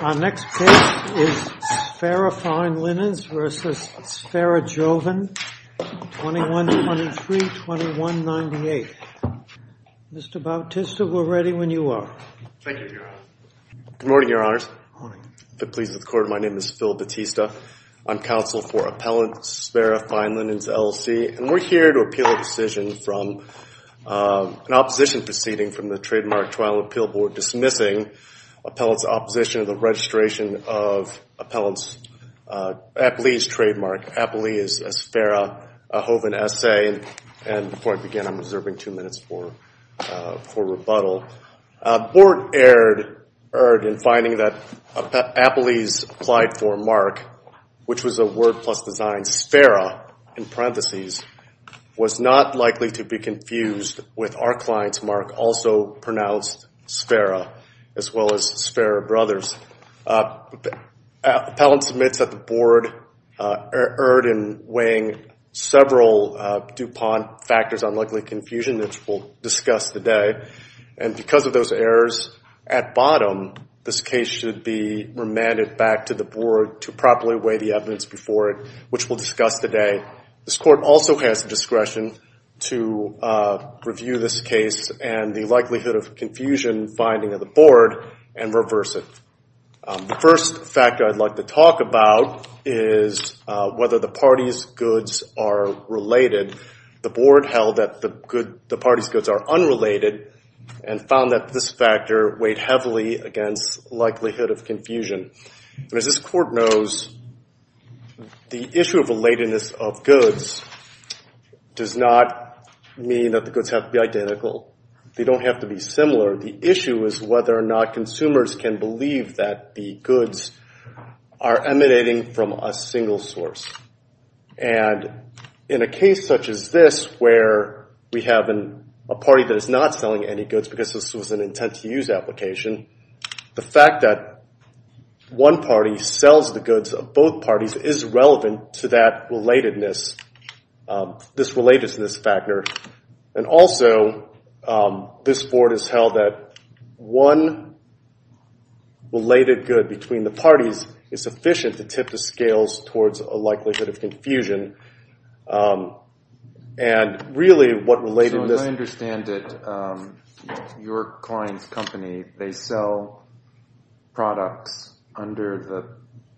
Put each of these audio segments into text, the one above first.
Our next case is Sfera Fine Linens v. Sfera Joven, 2123-2198. Mr. Bautista, we're ready when you are. Thank you, Your Honor. Good morning, Your Honors. Good morning. If it pleases the Court, my name is Phil Bautista. I'm counsel for Appellant Sfera Fine Linens, LLC, and we're here to appeal a decision from an opposition proceeding from the Trademark Trial Appeal Board dismissing Appellant's opposition of the registration of Appellant's Appellee's trademark, Appellee's Sfera Joven S.A. And before I begin, I'm reserving two minutes for rebuttal. Board erred in finding that Appellee's applied for mark, which was a word plus design Sfera in parentheses, was not likely to be confused with our client's mark, also pronounced Sfera, as well as Sfera Brothers. Appellant submits that the board erred in weighing several DuPont factors on likely confusion, which we'll discuss today. And because of those errors at bottom, this case should be remanded back to the board to properly weigh the evidence before it, which we'll discuss today. This Court also has the discretion to review this case and the likelihood of confusion finding of the board and reverse it. The first factor I'd like to talk about is whether the party's goods are related. The board held that the party's goods are unrelated and found that this factor weighed heavily against likelihood of confusion. And as this Court knows, the issue of relatedness of goods does not mean that the goods have to be identical. They don't have to be similar. The issue is whether or not consumers can believe that the goods are emanating from a single source. And in a case such as this, where we have a party that is not selling any goods, because this was an intent-to-use application, the fact that one party sells the goods of both parties is relevant to that relatedness, this relatedness factor. And also, this board has held that one related good between the parties is sufficient to tip the scales towards a likelihood of confusion. And really, what relatedness- So I understand that your client's company, they sell products under the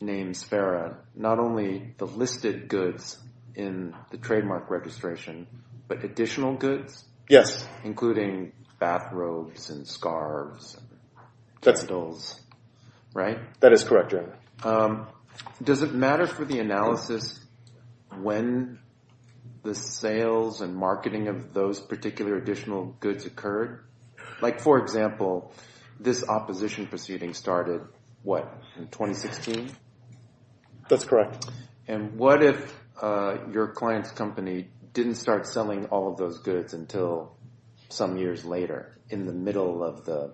name Sparrow, not only the listed goods in the trademark registration, but additional goods? Including bathrobes and scarves. That's- And dolls, right? That is correct, yeah. Does it matter for the analysis when the sales and marketing of those particular additional goods occurred? Like, for example, this opposition proceeding started, what, in 2016? That's correct. And what if your client's company didn't start selling all of those goods until some years later, in the middle of the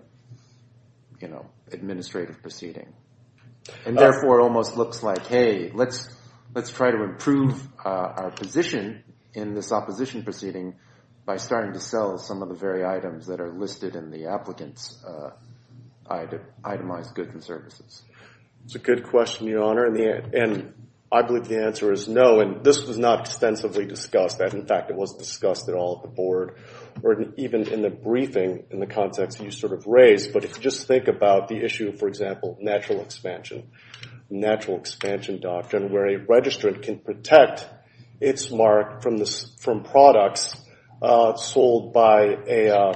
administrative proceeding? And therefore, it almost looks like, hey, let's try to improve our position in this opposition proceeding by starting to sell some of the very items that are listed in the applicant's itemized goods and services. That's a good question, Your Honor. And I believe the answer is no. And this was not extensively discussed. In fact, it wasn't discussed at all at the board or even in the briefing in the context you sort of raised. But just think about the issue, for example, natural expansion, natural expansion doctrine, where a registrant can protect its mark from products sold by a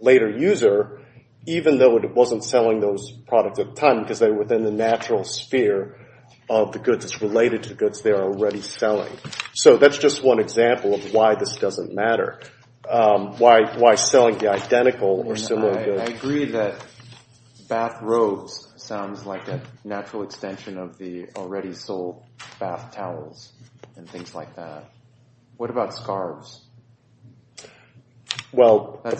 later user, even though it wasn't selling those products at the time because they were within the natural sphere of the goods that's related to goods they're already selling. So that's just one example of why this doesn't matter, why selling the identical or similar goods. I agree that bath robes sounds like a natural extension of the already sold bath towels and things like that. What about scarves? Well, the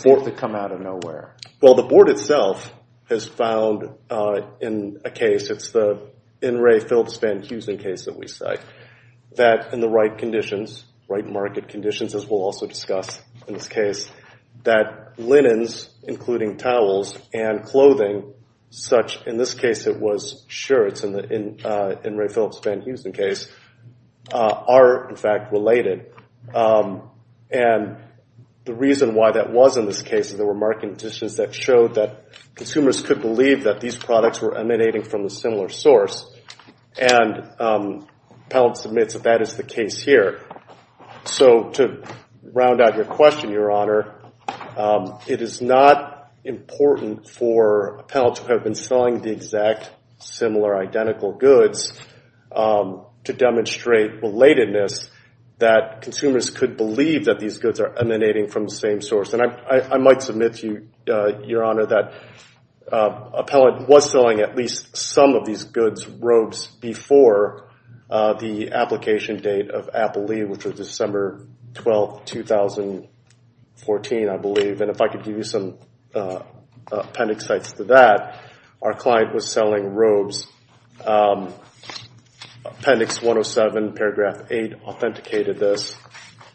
board itself has found in a case, it's the N. Ray Phillips Van Heusen case that we cite, that in the right conditions, right market conditions, as we'll also discuss in this case, that linens, including towels, and clothing such, in this case it was shirts in the N. Ray Phillips Van Heusen case, are, in fact, related. And the reason why that was in this case is there were market conditions that showed that consumers could believe that these products were emanating from a similar source. And the panel submits that that is the case here. So to round out your question, Your Honor, it is not important for a panel to have been selling the exact similar identical goods to demonstrate relatedness that consumers could believe that these goods are emanating from the same source. And I might submit to you, Your Honor, that Appellant was selling at least some of these goods robes before the application date of Appalee, which was December 12, 2014, I believe. And if I could give you some appendix sites to that, our client was selling robes. Appendix 107, paragraph 8, authenticated this.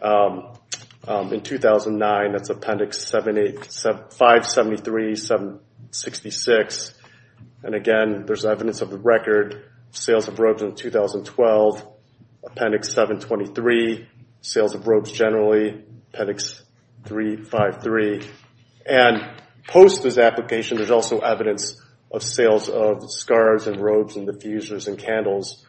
In 2009, that's appendix 573, 766. And again, there's evidence of the record, sales of robes in 2012, appendix 723, sales of robes generally, appendix 353. And post this application, there's also evidence of sales of scarves, and robes, and diffusers, and candles.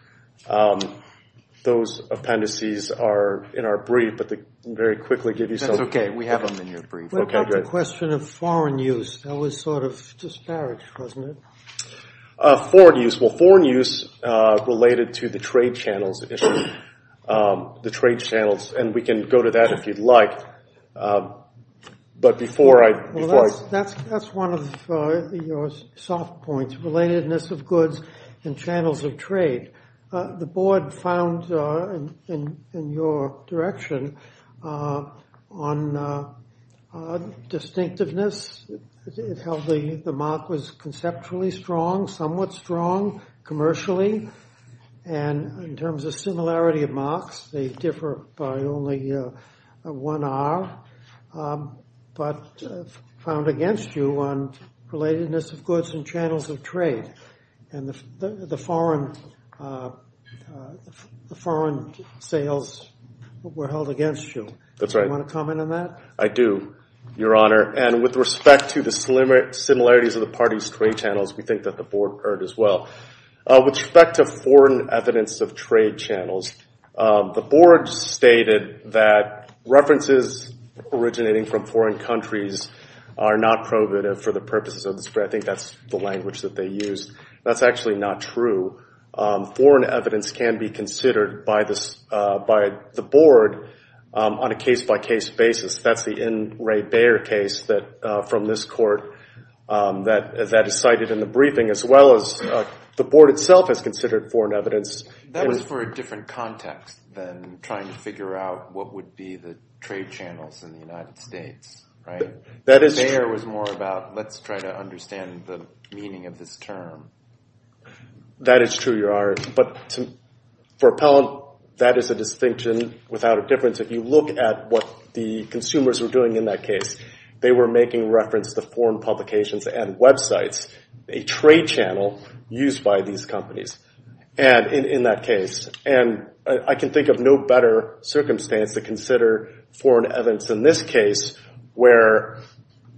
Those appendices are in our brief, but I can very quickly give you some. That's OK. We have them in your brief. OK, great. What about the question of foreign use? That was sort of disparaged, wasn't it? Foreign use. Well, foreign use related to the trade channels issue. The trade channels. And we can go to that, if you'd like. That's one of your soft points, relatedness of goods and channels of trade. The board found, in your direction, on distinctiveness. It held the mark was conceptually strong, somewhat strong, commercially. And in terms of similarity of marks, they differ by only one hour. But found against you on relatedness of goods and channels of trade. And the foreign sales were held against you. That's right. Do you want to comment on that? I do, Your Honor. And with respect to the similarities of the party's trade channels, we think that the board heard as well. With respect to foreign evidence of trade channels, the board stated that references originating from foreign countries are not prohibitive for the purposes of this. I think that's the language that they used. That's actually not true. Foreign evidence can be considered by the board on a case-by-case basis. That's the N. Ray Bayer case from this court that is cited in the briefing, as well as the board itself has considered foreign evidence. That was for a different context than trying to figure out what would be the trade channels in the United States, right? That is true. Bayer was more about, let's try to understand the meaning of this term. That is true, Your Honor. But for Appellant, that is a distinction without a difference. If you look at what the consumers were doing in that case, they were making reference to foreign publications and websites, a trade channel used by these companies in that case. And I can think of no better circumstance to consider foreign evidence in this case where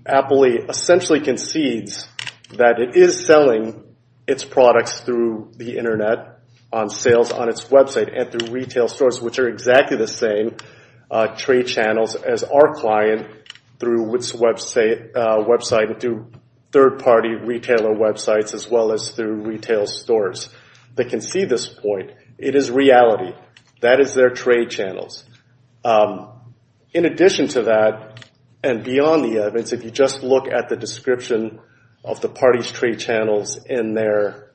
Appley essentially concedes that it is selling its products through the internet, on sales on its website, and through retail stores, which are exactly the same trade channels as our client through its website and through third party retailer websites, as well as through retail stores. They can see this point. It is reality. That is their trade channels. In addition to that, and beyond the evidence, if you just look at the description of the party's trade channels in their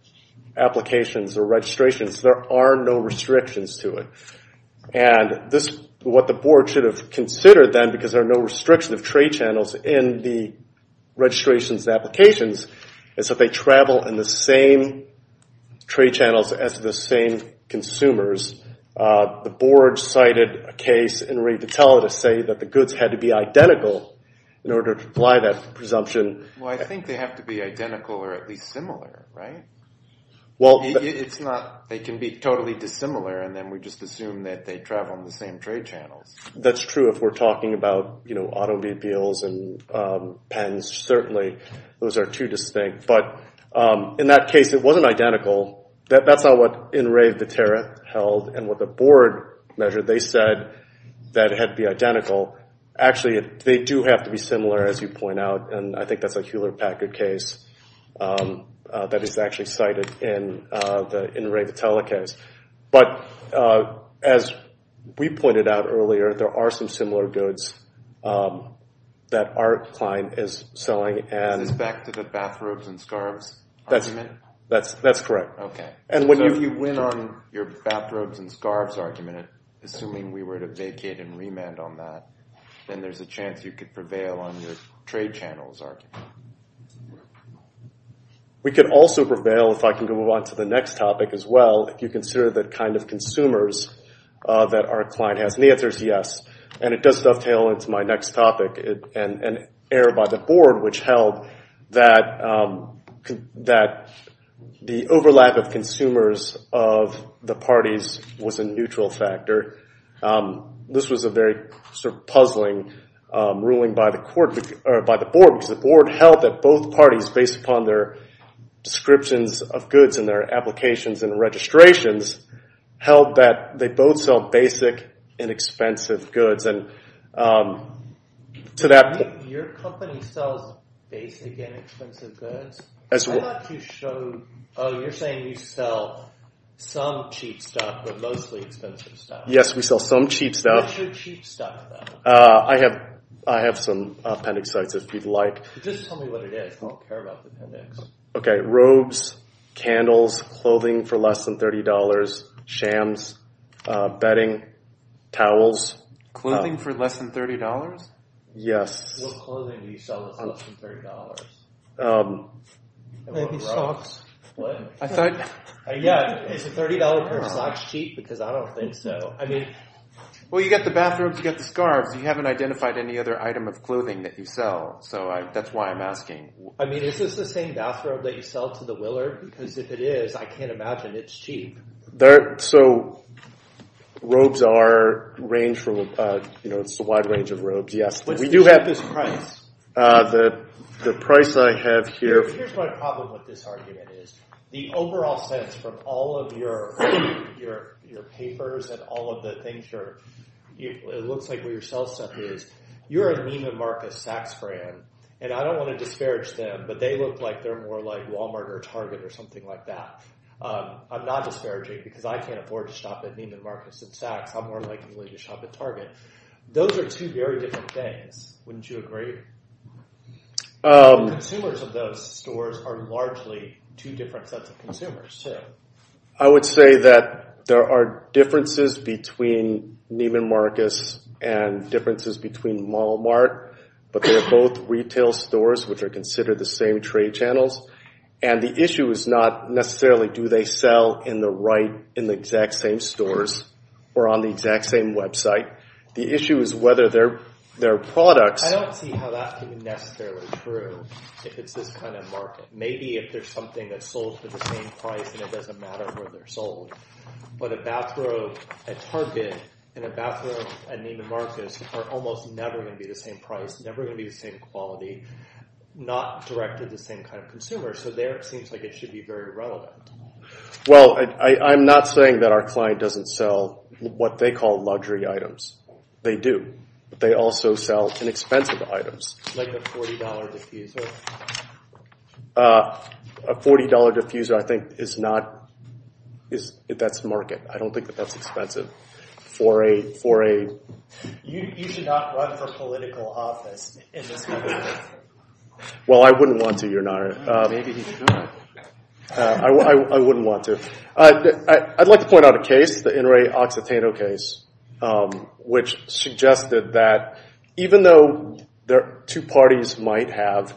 applications or registrations, there are no restrictions to it. And what the board should have considered then, because there are no restrictions of trade channels in the registrations and applications, is that they travel in the same trade channels as the same consumers. The board cited a case in retail to say that the goods had to be identical in order to apply that presumption. Well, I think they have to be identical or at least similar, right? Well, it's not. They can be totally dissimilar, and then we just assume that they travel in the same trade channels. That's true if we're talking about automobiles and pens, certainly. Those are too distinct. But in that case, it wasn't identical. That's not what In Re Vitera held and what the board measured. They said that it had to be identical. Actually, they do have to be similar, as you point out. And I think that's a Hewlett Packard case that is actually cited in the In Re Vitella case. But as we pointed out earlier, there are some similar goods that our client is selling. And it's back to the bathrobes and scarves argument? That's correct. And when you went on your bathrobes and scarves argument, assuming we were to vacate and remand on that, then there's a chance you could prevail on your trade channels argument. We could also prevail, if I can go on to the next topic as well, if you consider the kind of consumers that our client has. And the answer is yes. And it does dovetail into my next topic, an error by the board which held that the overlap of consumers of the parties was a neutral factor. This was a very puzzling ruling by the board, because the board held that both parties, based upon their descriptions of goods and their applications and registrations, held that they both sell basic and expensive goods. And to that point, Your company sells basic and expensive goods? I thought you showed, oh, you're saying you sell some cheap stuff, but mostly expensive stuff. Yes, we sell some cheap stuff. What's your cheap stuff, though? I have some appendix sites, if you'd like. Just tell me what it is. I don't care about the appendix. OK, robes, candles, clothing for less than $30, shams, bedding, towels. Clothing for less than $30? Yes. What clothing do you sell that's less than $30? Maybe socks. I thought. Yeah, is a $30 pair of socks cheap? Because I don't think so. I mean. Well, you've got the bathrobes, you've got the scarves. You haven't identified any other item of clothing that you sell. So that's why I'm asking. I mean, is this the same bathrobe that you sell to the willer? Because if it is, I can't imagine it's cheap. So robes are a wide range of robes, yes. But we do have this price. The price I have here. Here's my problem with this argument is, the overall sense from all of your papers and all of the things, it looks like where your sell stuff is. You're a Lima Marcus Saks brand. And I don't want to disparage them, but they look like they're more like Walmart or Target or something like that. I'm not disparaging because I can't afford to shop at Lima Marcus and Saks. I'm more likely to shop at Target. Those are two very different things. Wouldn't you agree? Consumers of those stores are largely two different sets of consumers too. I would say that there are differences between Lima Marcus and differences between Walmart, but they're both retail stores which are considered the same trade channels. And the issue is not necessarily do they sell in the right, in the exact same stores or on the exact same website. The issue is whether their products- I don't see how that can be necessarily true if it's this kind of market. Maybe if there's something that's sold for the same price and it doesn't matter where they're sold. But a bathrobe at Target and a bathrobe at Lima Marcus are almost never going to be the same price, never going to be the same quality, not directed to the same kind of consumer. So there it seems like it should be very relevant. Well, I'm not saying that our client doesn't sell what they call luxury items. They do, but they also sell inexpensive items. Like a $40 diffuser? A $40 diffuser, I think, is not- that's market. I don't think that that's expensive for a- You should not run for political office in this country. Well, I wouldn't want to, Your Honor. Maybe he should not. I wouldn't want to. I'd like to point out a case, the Enrique Occitano case, which suggested that even though two parties might have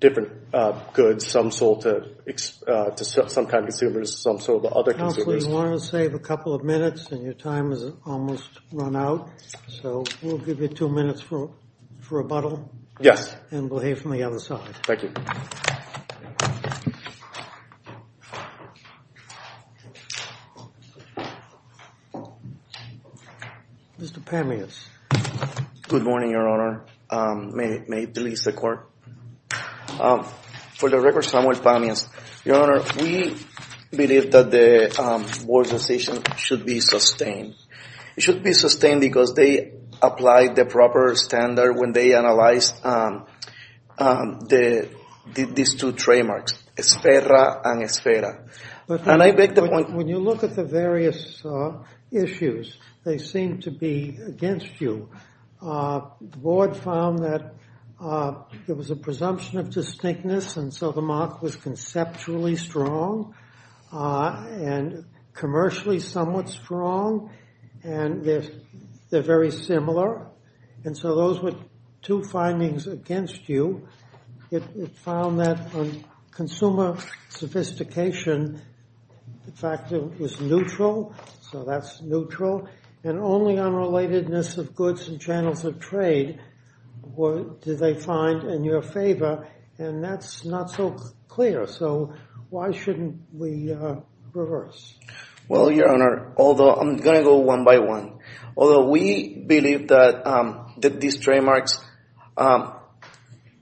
different goods, some sold to some kind of consumers, some sold to other consumers- So you want to save a couple of minutes, and your time has almost run out. So we'll give you two minutes for rebuttal. Yes. And we'll hear from the other side. Thank you. Mr. Pamius. Good morning, Your Honor. May it please the Court. For the record, Samuel Pamius. Your Honor, we believe that the board's decision should be sustained. It should be sustained because they applied the proper standard when they analyzed these two trademarks, ESFERRA and ESFERRA. And I beg the point- When you look at the various issues, they seem to be against you. The board found that there was a presumption of distinctness, and so the mark was conceptually strong and commercially somewhat strong. And they're very similar. And so those were two findings against you. It found that consumer sophistication factor was neutral. So that's neutral. And only unrelatedness of goods and channels of trade did they find in your favor. And that's not so clear. So why shouldn't we reverse? Well, Your Honor, although I'm going to go one by one. Although we believe that these trademarks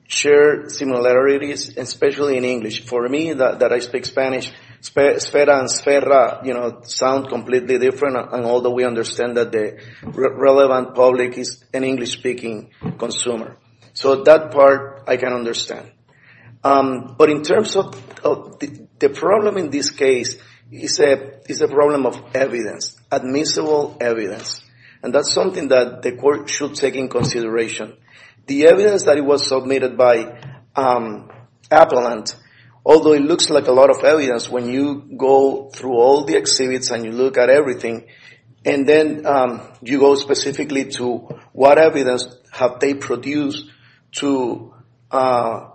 share similarities, especially in English. For me, that I speak Spanish, ESFERRA and ESFERRA sound completely different. And although we understand that the relevant public is an English-speaking consumer. So that part I can understand. But in terms of the problem in this case, it's a problem of evidence, admissible evidence. And that's something that the court should take in consideration. The evidence that was submitted by Appellant, although it looks like a lot of evidence, when you go through all the exhibits and you look at everything. And then you go specifically to what evidence have they produced to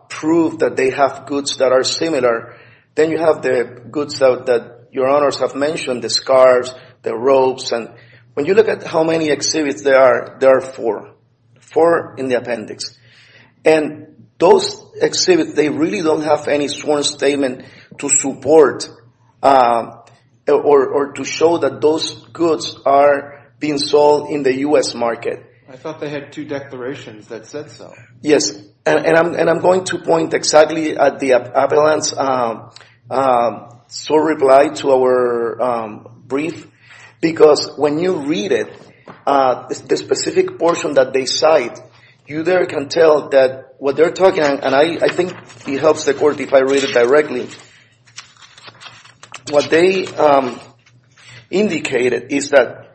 prove that they have goods that are similar. Then you have the goods that Your Honors have mentioned, the scarves, the robes. And when you look at how many exhibits there are, there are four, four in the appendix. And those exhibits, they really don't have any sworn statement to support or to show that those goods are being sold in the U.S. market. I thought they had two declarations that said so. Yes, and I'm going to point exactly at the Appellant's sole reply to our brief. Because when you read it, the specific portion that they cite, you there can tell that what they're talking. And I think it helps the court if I read it directly. What they indicated is that,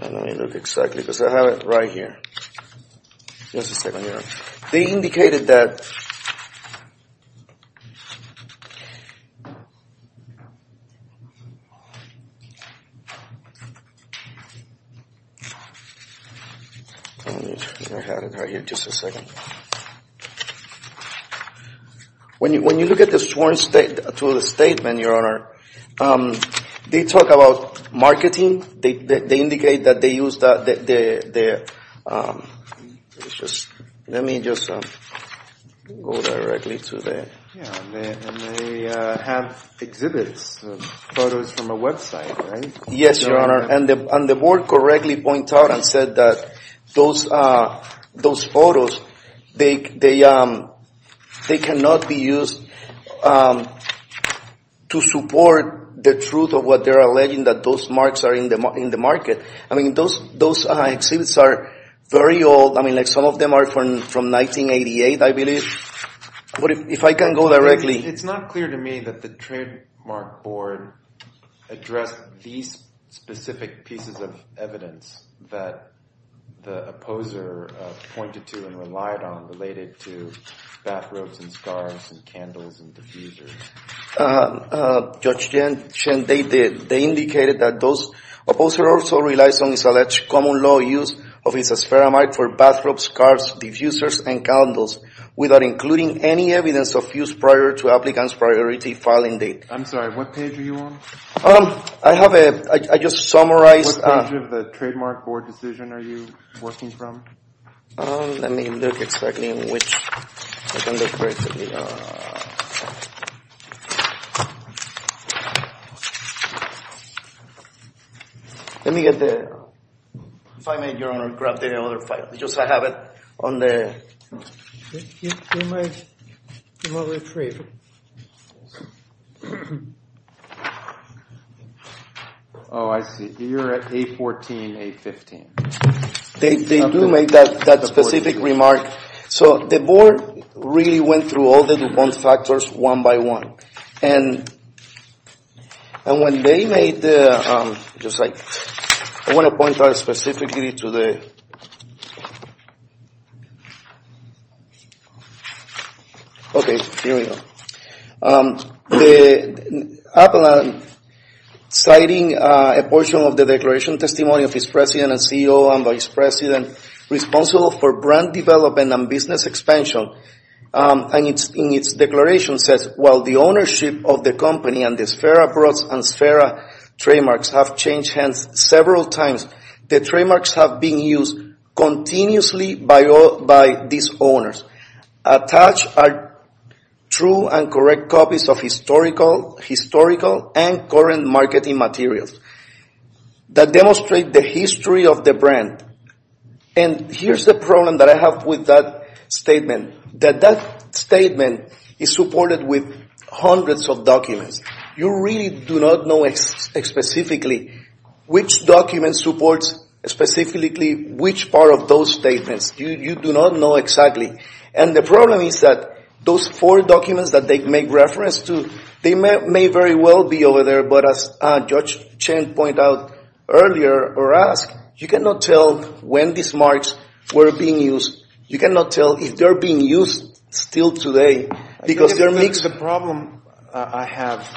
let me look exactly because I have it right here, just a second here. They indicated that, let me turn my head right here just a second. When you look at the sworn statement, Your Honor, they talk about marketing. They indicate that they use the, let me just go directly to the, and they have exhibits, photos from a website, right? Yes, Your Honor, and the board correctly points out and said that those photos, they cannot be used to support the truth of what they're alleging that those marks are in the market. I mean, those exhibits are very old. I mean, like some of them are from 1988, I believe. If I can go directly. It's not clear to me that the trademark board addressed these specific pieces of evidence that the opposer pointed to and relied on related to bathrobes and scarves and candles and diffusers. Judge Shen, they did. They indicated that those opposers also relied on the alleged common law use of isosferamide for bathrobes, scarves, diffusers, and candles without including any evidence of use prior to applicant's priority filing date. I'm sorry, what page are you on? I have a, I just summarized. What page of the trademark board decision are you working from? Let me look exactly in which. Let me get the. If I may, Your Honor, grab the other five because I have it on the. Oh, I see. You're at 814, 815. They do make that specific remark. So the board really went through all the factors one by one. And when they made the just like I want to point out specifically to the. Okay, here we go. The applicant citing a portion of the declaration testimony of his president and CEO and vice president responsible for brand development and business expansion. And it's in its declaration says, while the ownership of the company and the Sfera Broads and Sfera trademarks have changed hands several times, the trademarks have been used continuously by these owners. Attached are true and correct copies of historical and current marketing materials that demonstrate the history of the brand. And here's the problem that I have with that statement, that that statement is supported with hundreds of documents. You really do not know specifically which document supports specifically which part of those statements. You do not know exactly. And the problem is that those four documents that they make reference to, they may very well be over there. But as Judge Chen pointed out earlier or asked, you cannot tell when these marks were being used. You cannot tell if they're being used still today because they're mixed. The problem I have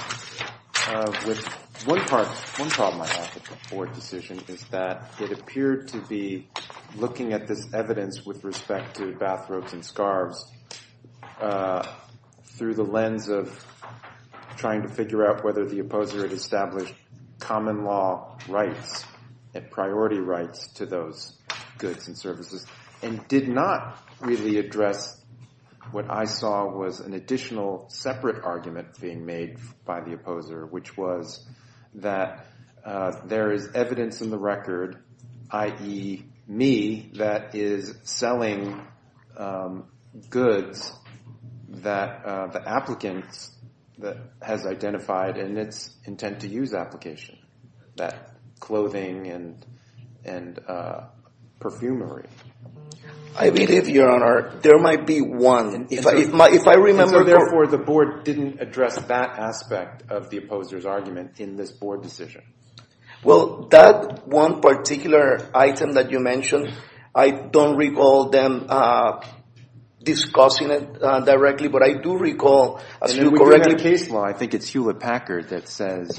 with one part, one problem I have with the Ford decision is that it appeared to be looking at this evidence with respect to bathrobes and scarves through the lens of trying to figure out whether the opposer had established common law rights and priority rights to those goods and services. And did not really address what I saw was an additional separate argument being made by the opposer, which was that there is evidence in the record, i.e. me, that is selling goods that the applicant has identified in its intent to use application, that clothing and perfumery. I believe, Your Honor, there might be one. And so, therefore, the board didn't address that aspect of the opposer's argument in this board decision. Well, that one particular item that you mentioned, I don't recall them discussing it directly. And then we have a case law, I think it's Hewlett-Packard, that says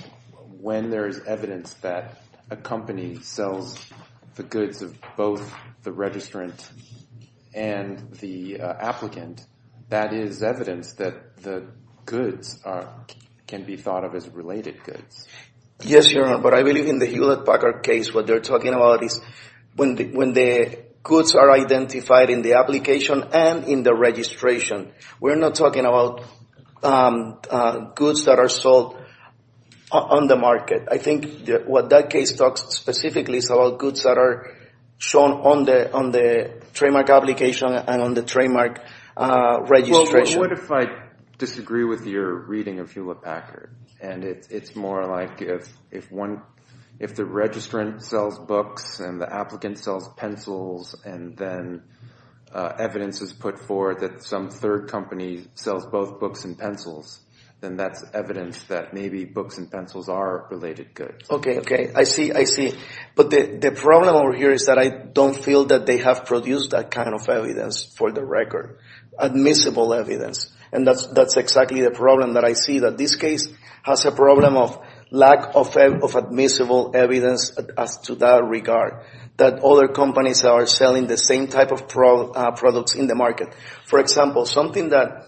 when there is evidence that a company sells the goods of both the registrant and the applicant, that is evidence that the goods can be thought of as related goods. Yes, Your Honor, but I believe in the Hewlett-Packard case what they're talking about is when the goods are identified in the application and in the registration. We're not talking about goods that are sold on the market. I think what that case talks specifically is about goods that are shown on the trademark application and on the trademark registration. Well, what if I disagree with your reading of Hewlett-Packard? And it's more like if the registrant sells books and the applicant sells pencils and then evidence is put forward that some third company sells both books and pencils, then that's evidence that maybe books and pencils are related goods. Okay, okay, I see, I see. But the problem over here is that I don't feel that they have produced that kind of evidence for the record, admissible evidence. And that's exactly the problem that I see, that this case has a problem of lack of admissible evidence as to that regard, that other companies are selling the same type of products in the market. For example, something that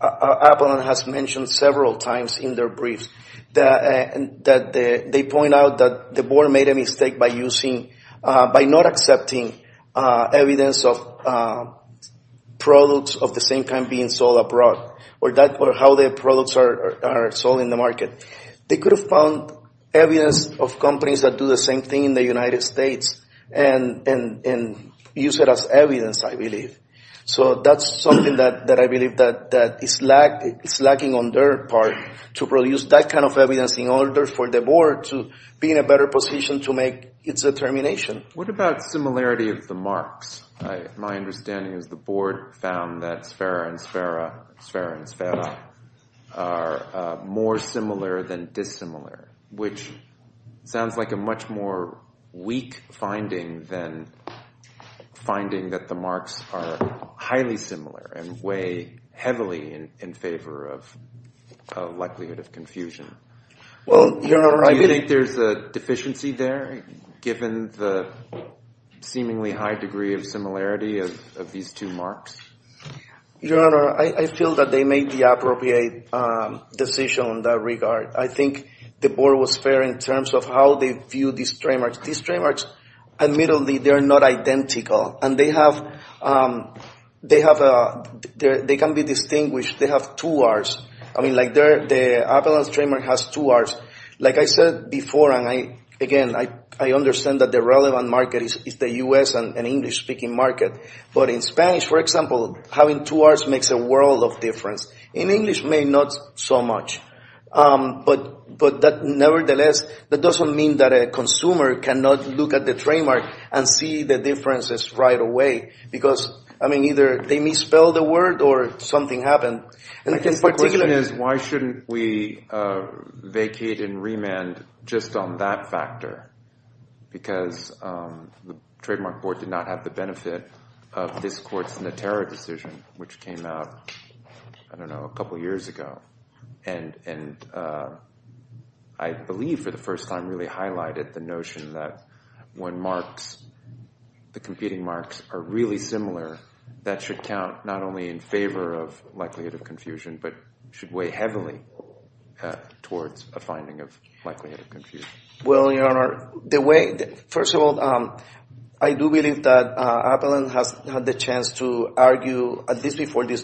Apple has mentioned several times in their briefs, that they point out that the board made a mistake by not accepting evidence of products of the same kind being sold abroad or how their products are sold in the market. They could have found evidence of companies that do the same thing in the United States and use it as evidence, I believe. So that's something that I believe that is lacking on their part to produce that kind of evidence in order for the board to be in a better position to make its determination. What about similarity of the marks? My understanding is the board found that Sfera and Sfera, Sfera and Sfera are more similar than dissimilar, which sounds like a much more weak finding than finding that the marks are highly similar and weigh heavily in favor of likelihood of confusion. Do you think there's a deficiency there, given the seemingly high degree of similarity of these two marks? Your Honor, I feel that they made the appropriate decision in that regard. I think the board was fair in terms of how they viewed these trademarks. These trademarks, admittedly, they're not identical. And they can be distinguished. They have two R's. I mean, like the Appellant's trademark has two R's. Like I said before, and again, I understand that the relevant market is the U.S. and English-speaking market. But in Spanish, for example, having two R's makes a world of difference. In English, maybe not so much. But nevertheless, that doesn't mean that a consumer cannot look at the trademark and see the differences right away. Because, I mean, either they misspelled the word or something happened. I guess the question is, why shouldn't we vacate and remand just on that factor? Because the Trademark Board did not have the benefit of this court's Natera decision, which came out, I don't know, a couple years ago. And I believe for the first time really highlighted the notion that when marks, the competing marks, are really similar, that should count not only in favor of likelihood of confusion, but should weigh heavily towards a finding of likelihood of confusion. Well, Your Honor, the way, first of all, I do believe that Appellant has had the chance to argue at least before this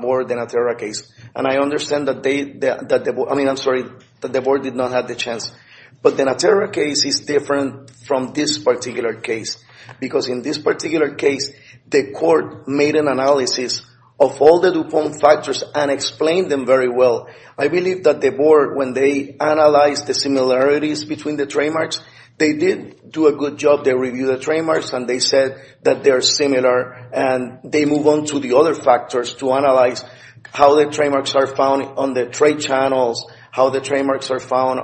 board Natera case. And I understand that they, I mean, I'm sorry, that the board did not have the chance. But the Natera case is different from this particular case. Because in this particular case, the court made an analysis of all the DuPont factors and explained them very well. I believe that the board, when they analyzed the similarities between the trademarks, they did do a good job. They reviewed the trademarks and they said that they're similar. And they move on to the other factors to analyze how the trademarks are found on the trade channels, how the trademarks are found,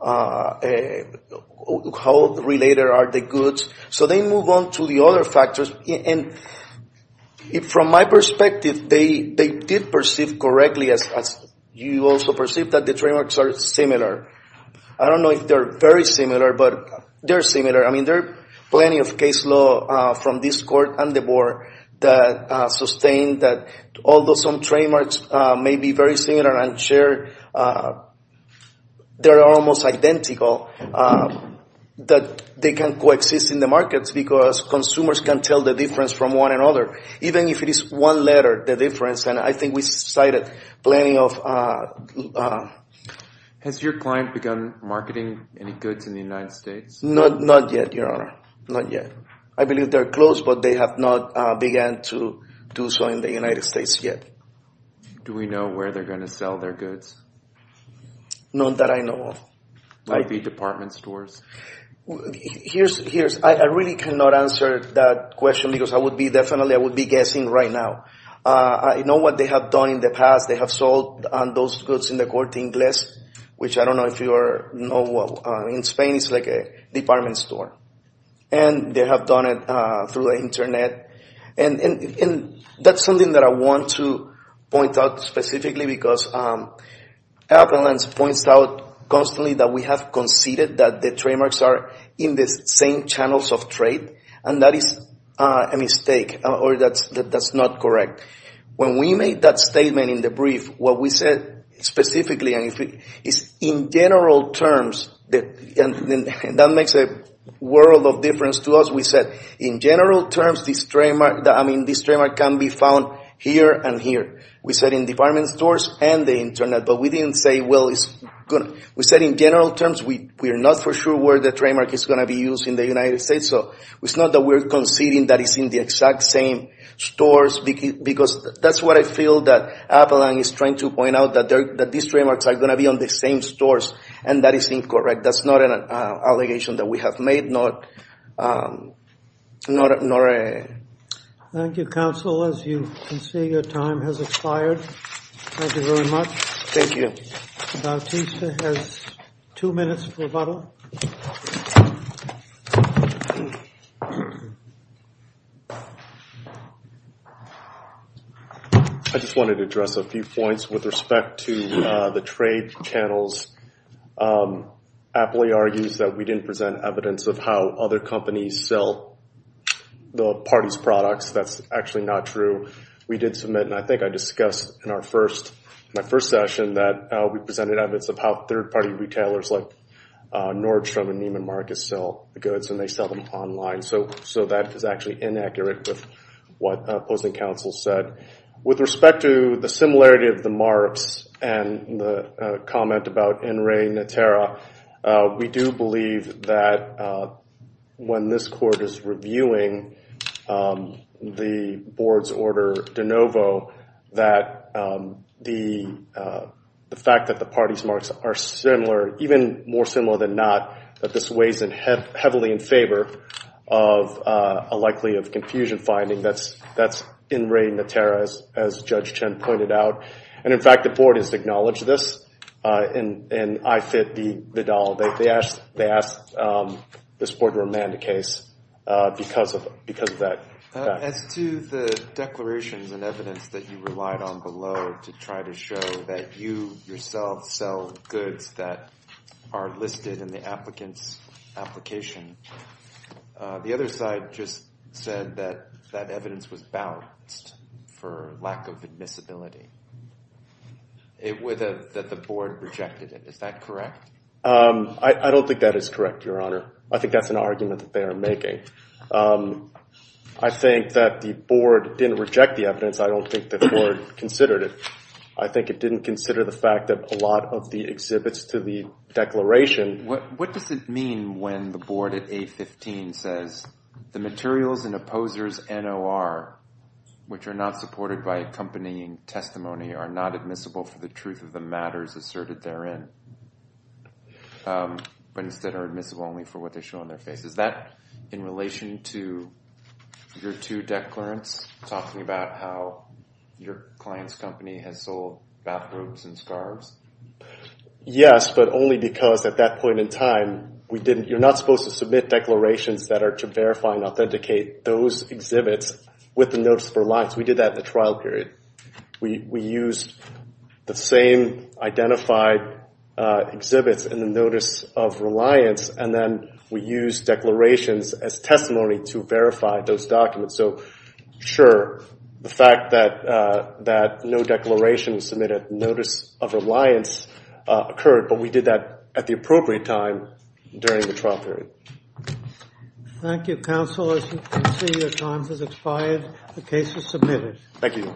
how related are the goods. So they move on to the other factors. And from my perspective, they did perceive correctly, as you also perceive, that the trademarks are similar. I don't know if they're very similar, but they're similar. I mean, there are plenty of case law from this court and the board that sustain that although some trademarks may be very similar and shared, they're almost identical, that they can coexist in the markets because consumers can tell the difference from one another, even if it is one letter, the difference. And I think we cited plenty of... Has your client begun marketing any goods in the United States? Not yet, Your Honor. Not yet. I believe they're close, but they have not begun to do so in the United States yet. Do we know where they're going to sell their goods? None that I know of. Like the department stores? I really cannot answer that question because I would be definitely, I would be guessing right now. I know what they have done in the past. They have sold those goods in the Corte Ingles, which I don't know if you know. In Spain, it's like a department store. And they have done it through the Internet. And that's something that I want to point out specifically because Appellant points out constantly that we have conceded that the trademarks are in the same channels of trade. And that is a mistake or that's not correct. When we made that statement in the brief, what we said specifically is in general terms, and that makes a world of difference to us, we said in general terms, this trademark can be found here and here. We said in department stores and the Internet. But we didn't say, well, it's going to... We said in general terms, we are not for sure where the trademark is going to be used in the United States. So it's not that we're conceding that it's in the exact same stores, because that's what I feel that Appellant is trying to point out, that these trademarks are going to be on the same stores. And that is incorrect. That's not an allegation that we have made. Thank you, counsel. As you can see, your time has expired. Thank you very much. Thank you. Bautista has two minutes for a vote. I just wanted to address a few points with respect to the trade channels. Appley argues that we didn't present evidence of how other companies sell the party's products. That's actually not true. We did submit, and I think I discussed in my first session, that we presented evidence of how third-party retailers like Nordstrom and Neiman Marcus sell the goods, and they sell them online. So that is actually inaccurate with what opposing counsel said. With respect to the similarity of the marks and the comment about NREI and NTERA, we do believe that when this court is reviewing the board's order de novo, that the fact that the party's marks are similar, even more similar than not, that this weighs heavily in favor of a likely confusion finding. That's NREI and NTERA, as Judge Chen pointed out. And, in fact, the board has acknowledged this, and I fit the doll. They asked this board to remand the case because of that fact. As to the declarations and evidence that you relied on below to try to show that you yourself sell goods that are listed in the applicant's application, the other side just said that that evidence was balanced for lack of admissibility, that the board rejected it. Is that correct? I don't think that is correct, Your Honor. I think that's an argument that they are making. I think that the board didn't reject the evidence. I don't think the board considered it. I think it didn't consider the fact that a lot of the exhibits to the declaration What does it mean when the board at A15 says, The materials in opposer's NOR, which are not supported by accompanying testimony, are not admissible for the truth of the matters asserted therein, but instead are admissible only for what they show on their faces? Is that in relation to your two declarants talking about how your client's company has sold bathrobes and scarves? Yes, but only because at that point in time, you're not supposed to submit declarations that are to verify and authenticate those exhibits with the Notice of Reliance. We did that in the trial period. We used the same identified exhibits in the Notice of Reliance, and then we used declarations as testimony to verify those documents. Sure, the fact that no declarations submitted in the Notice of Reliance occurred, but we did that at the appropriate time during the trial period. Thank you, counsel. As you can see, your time has expired. The case is submitted. Thank you.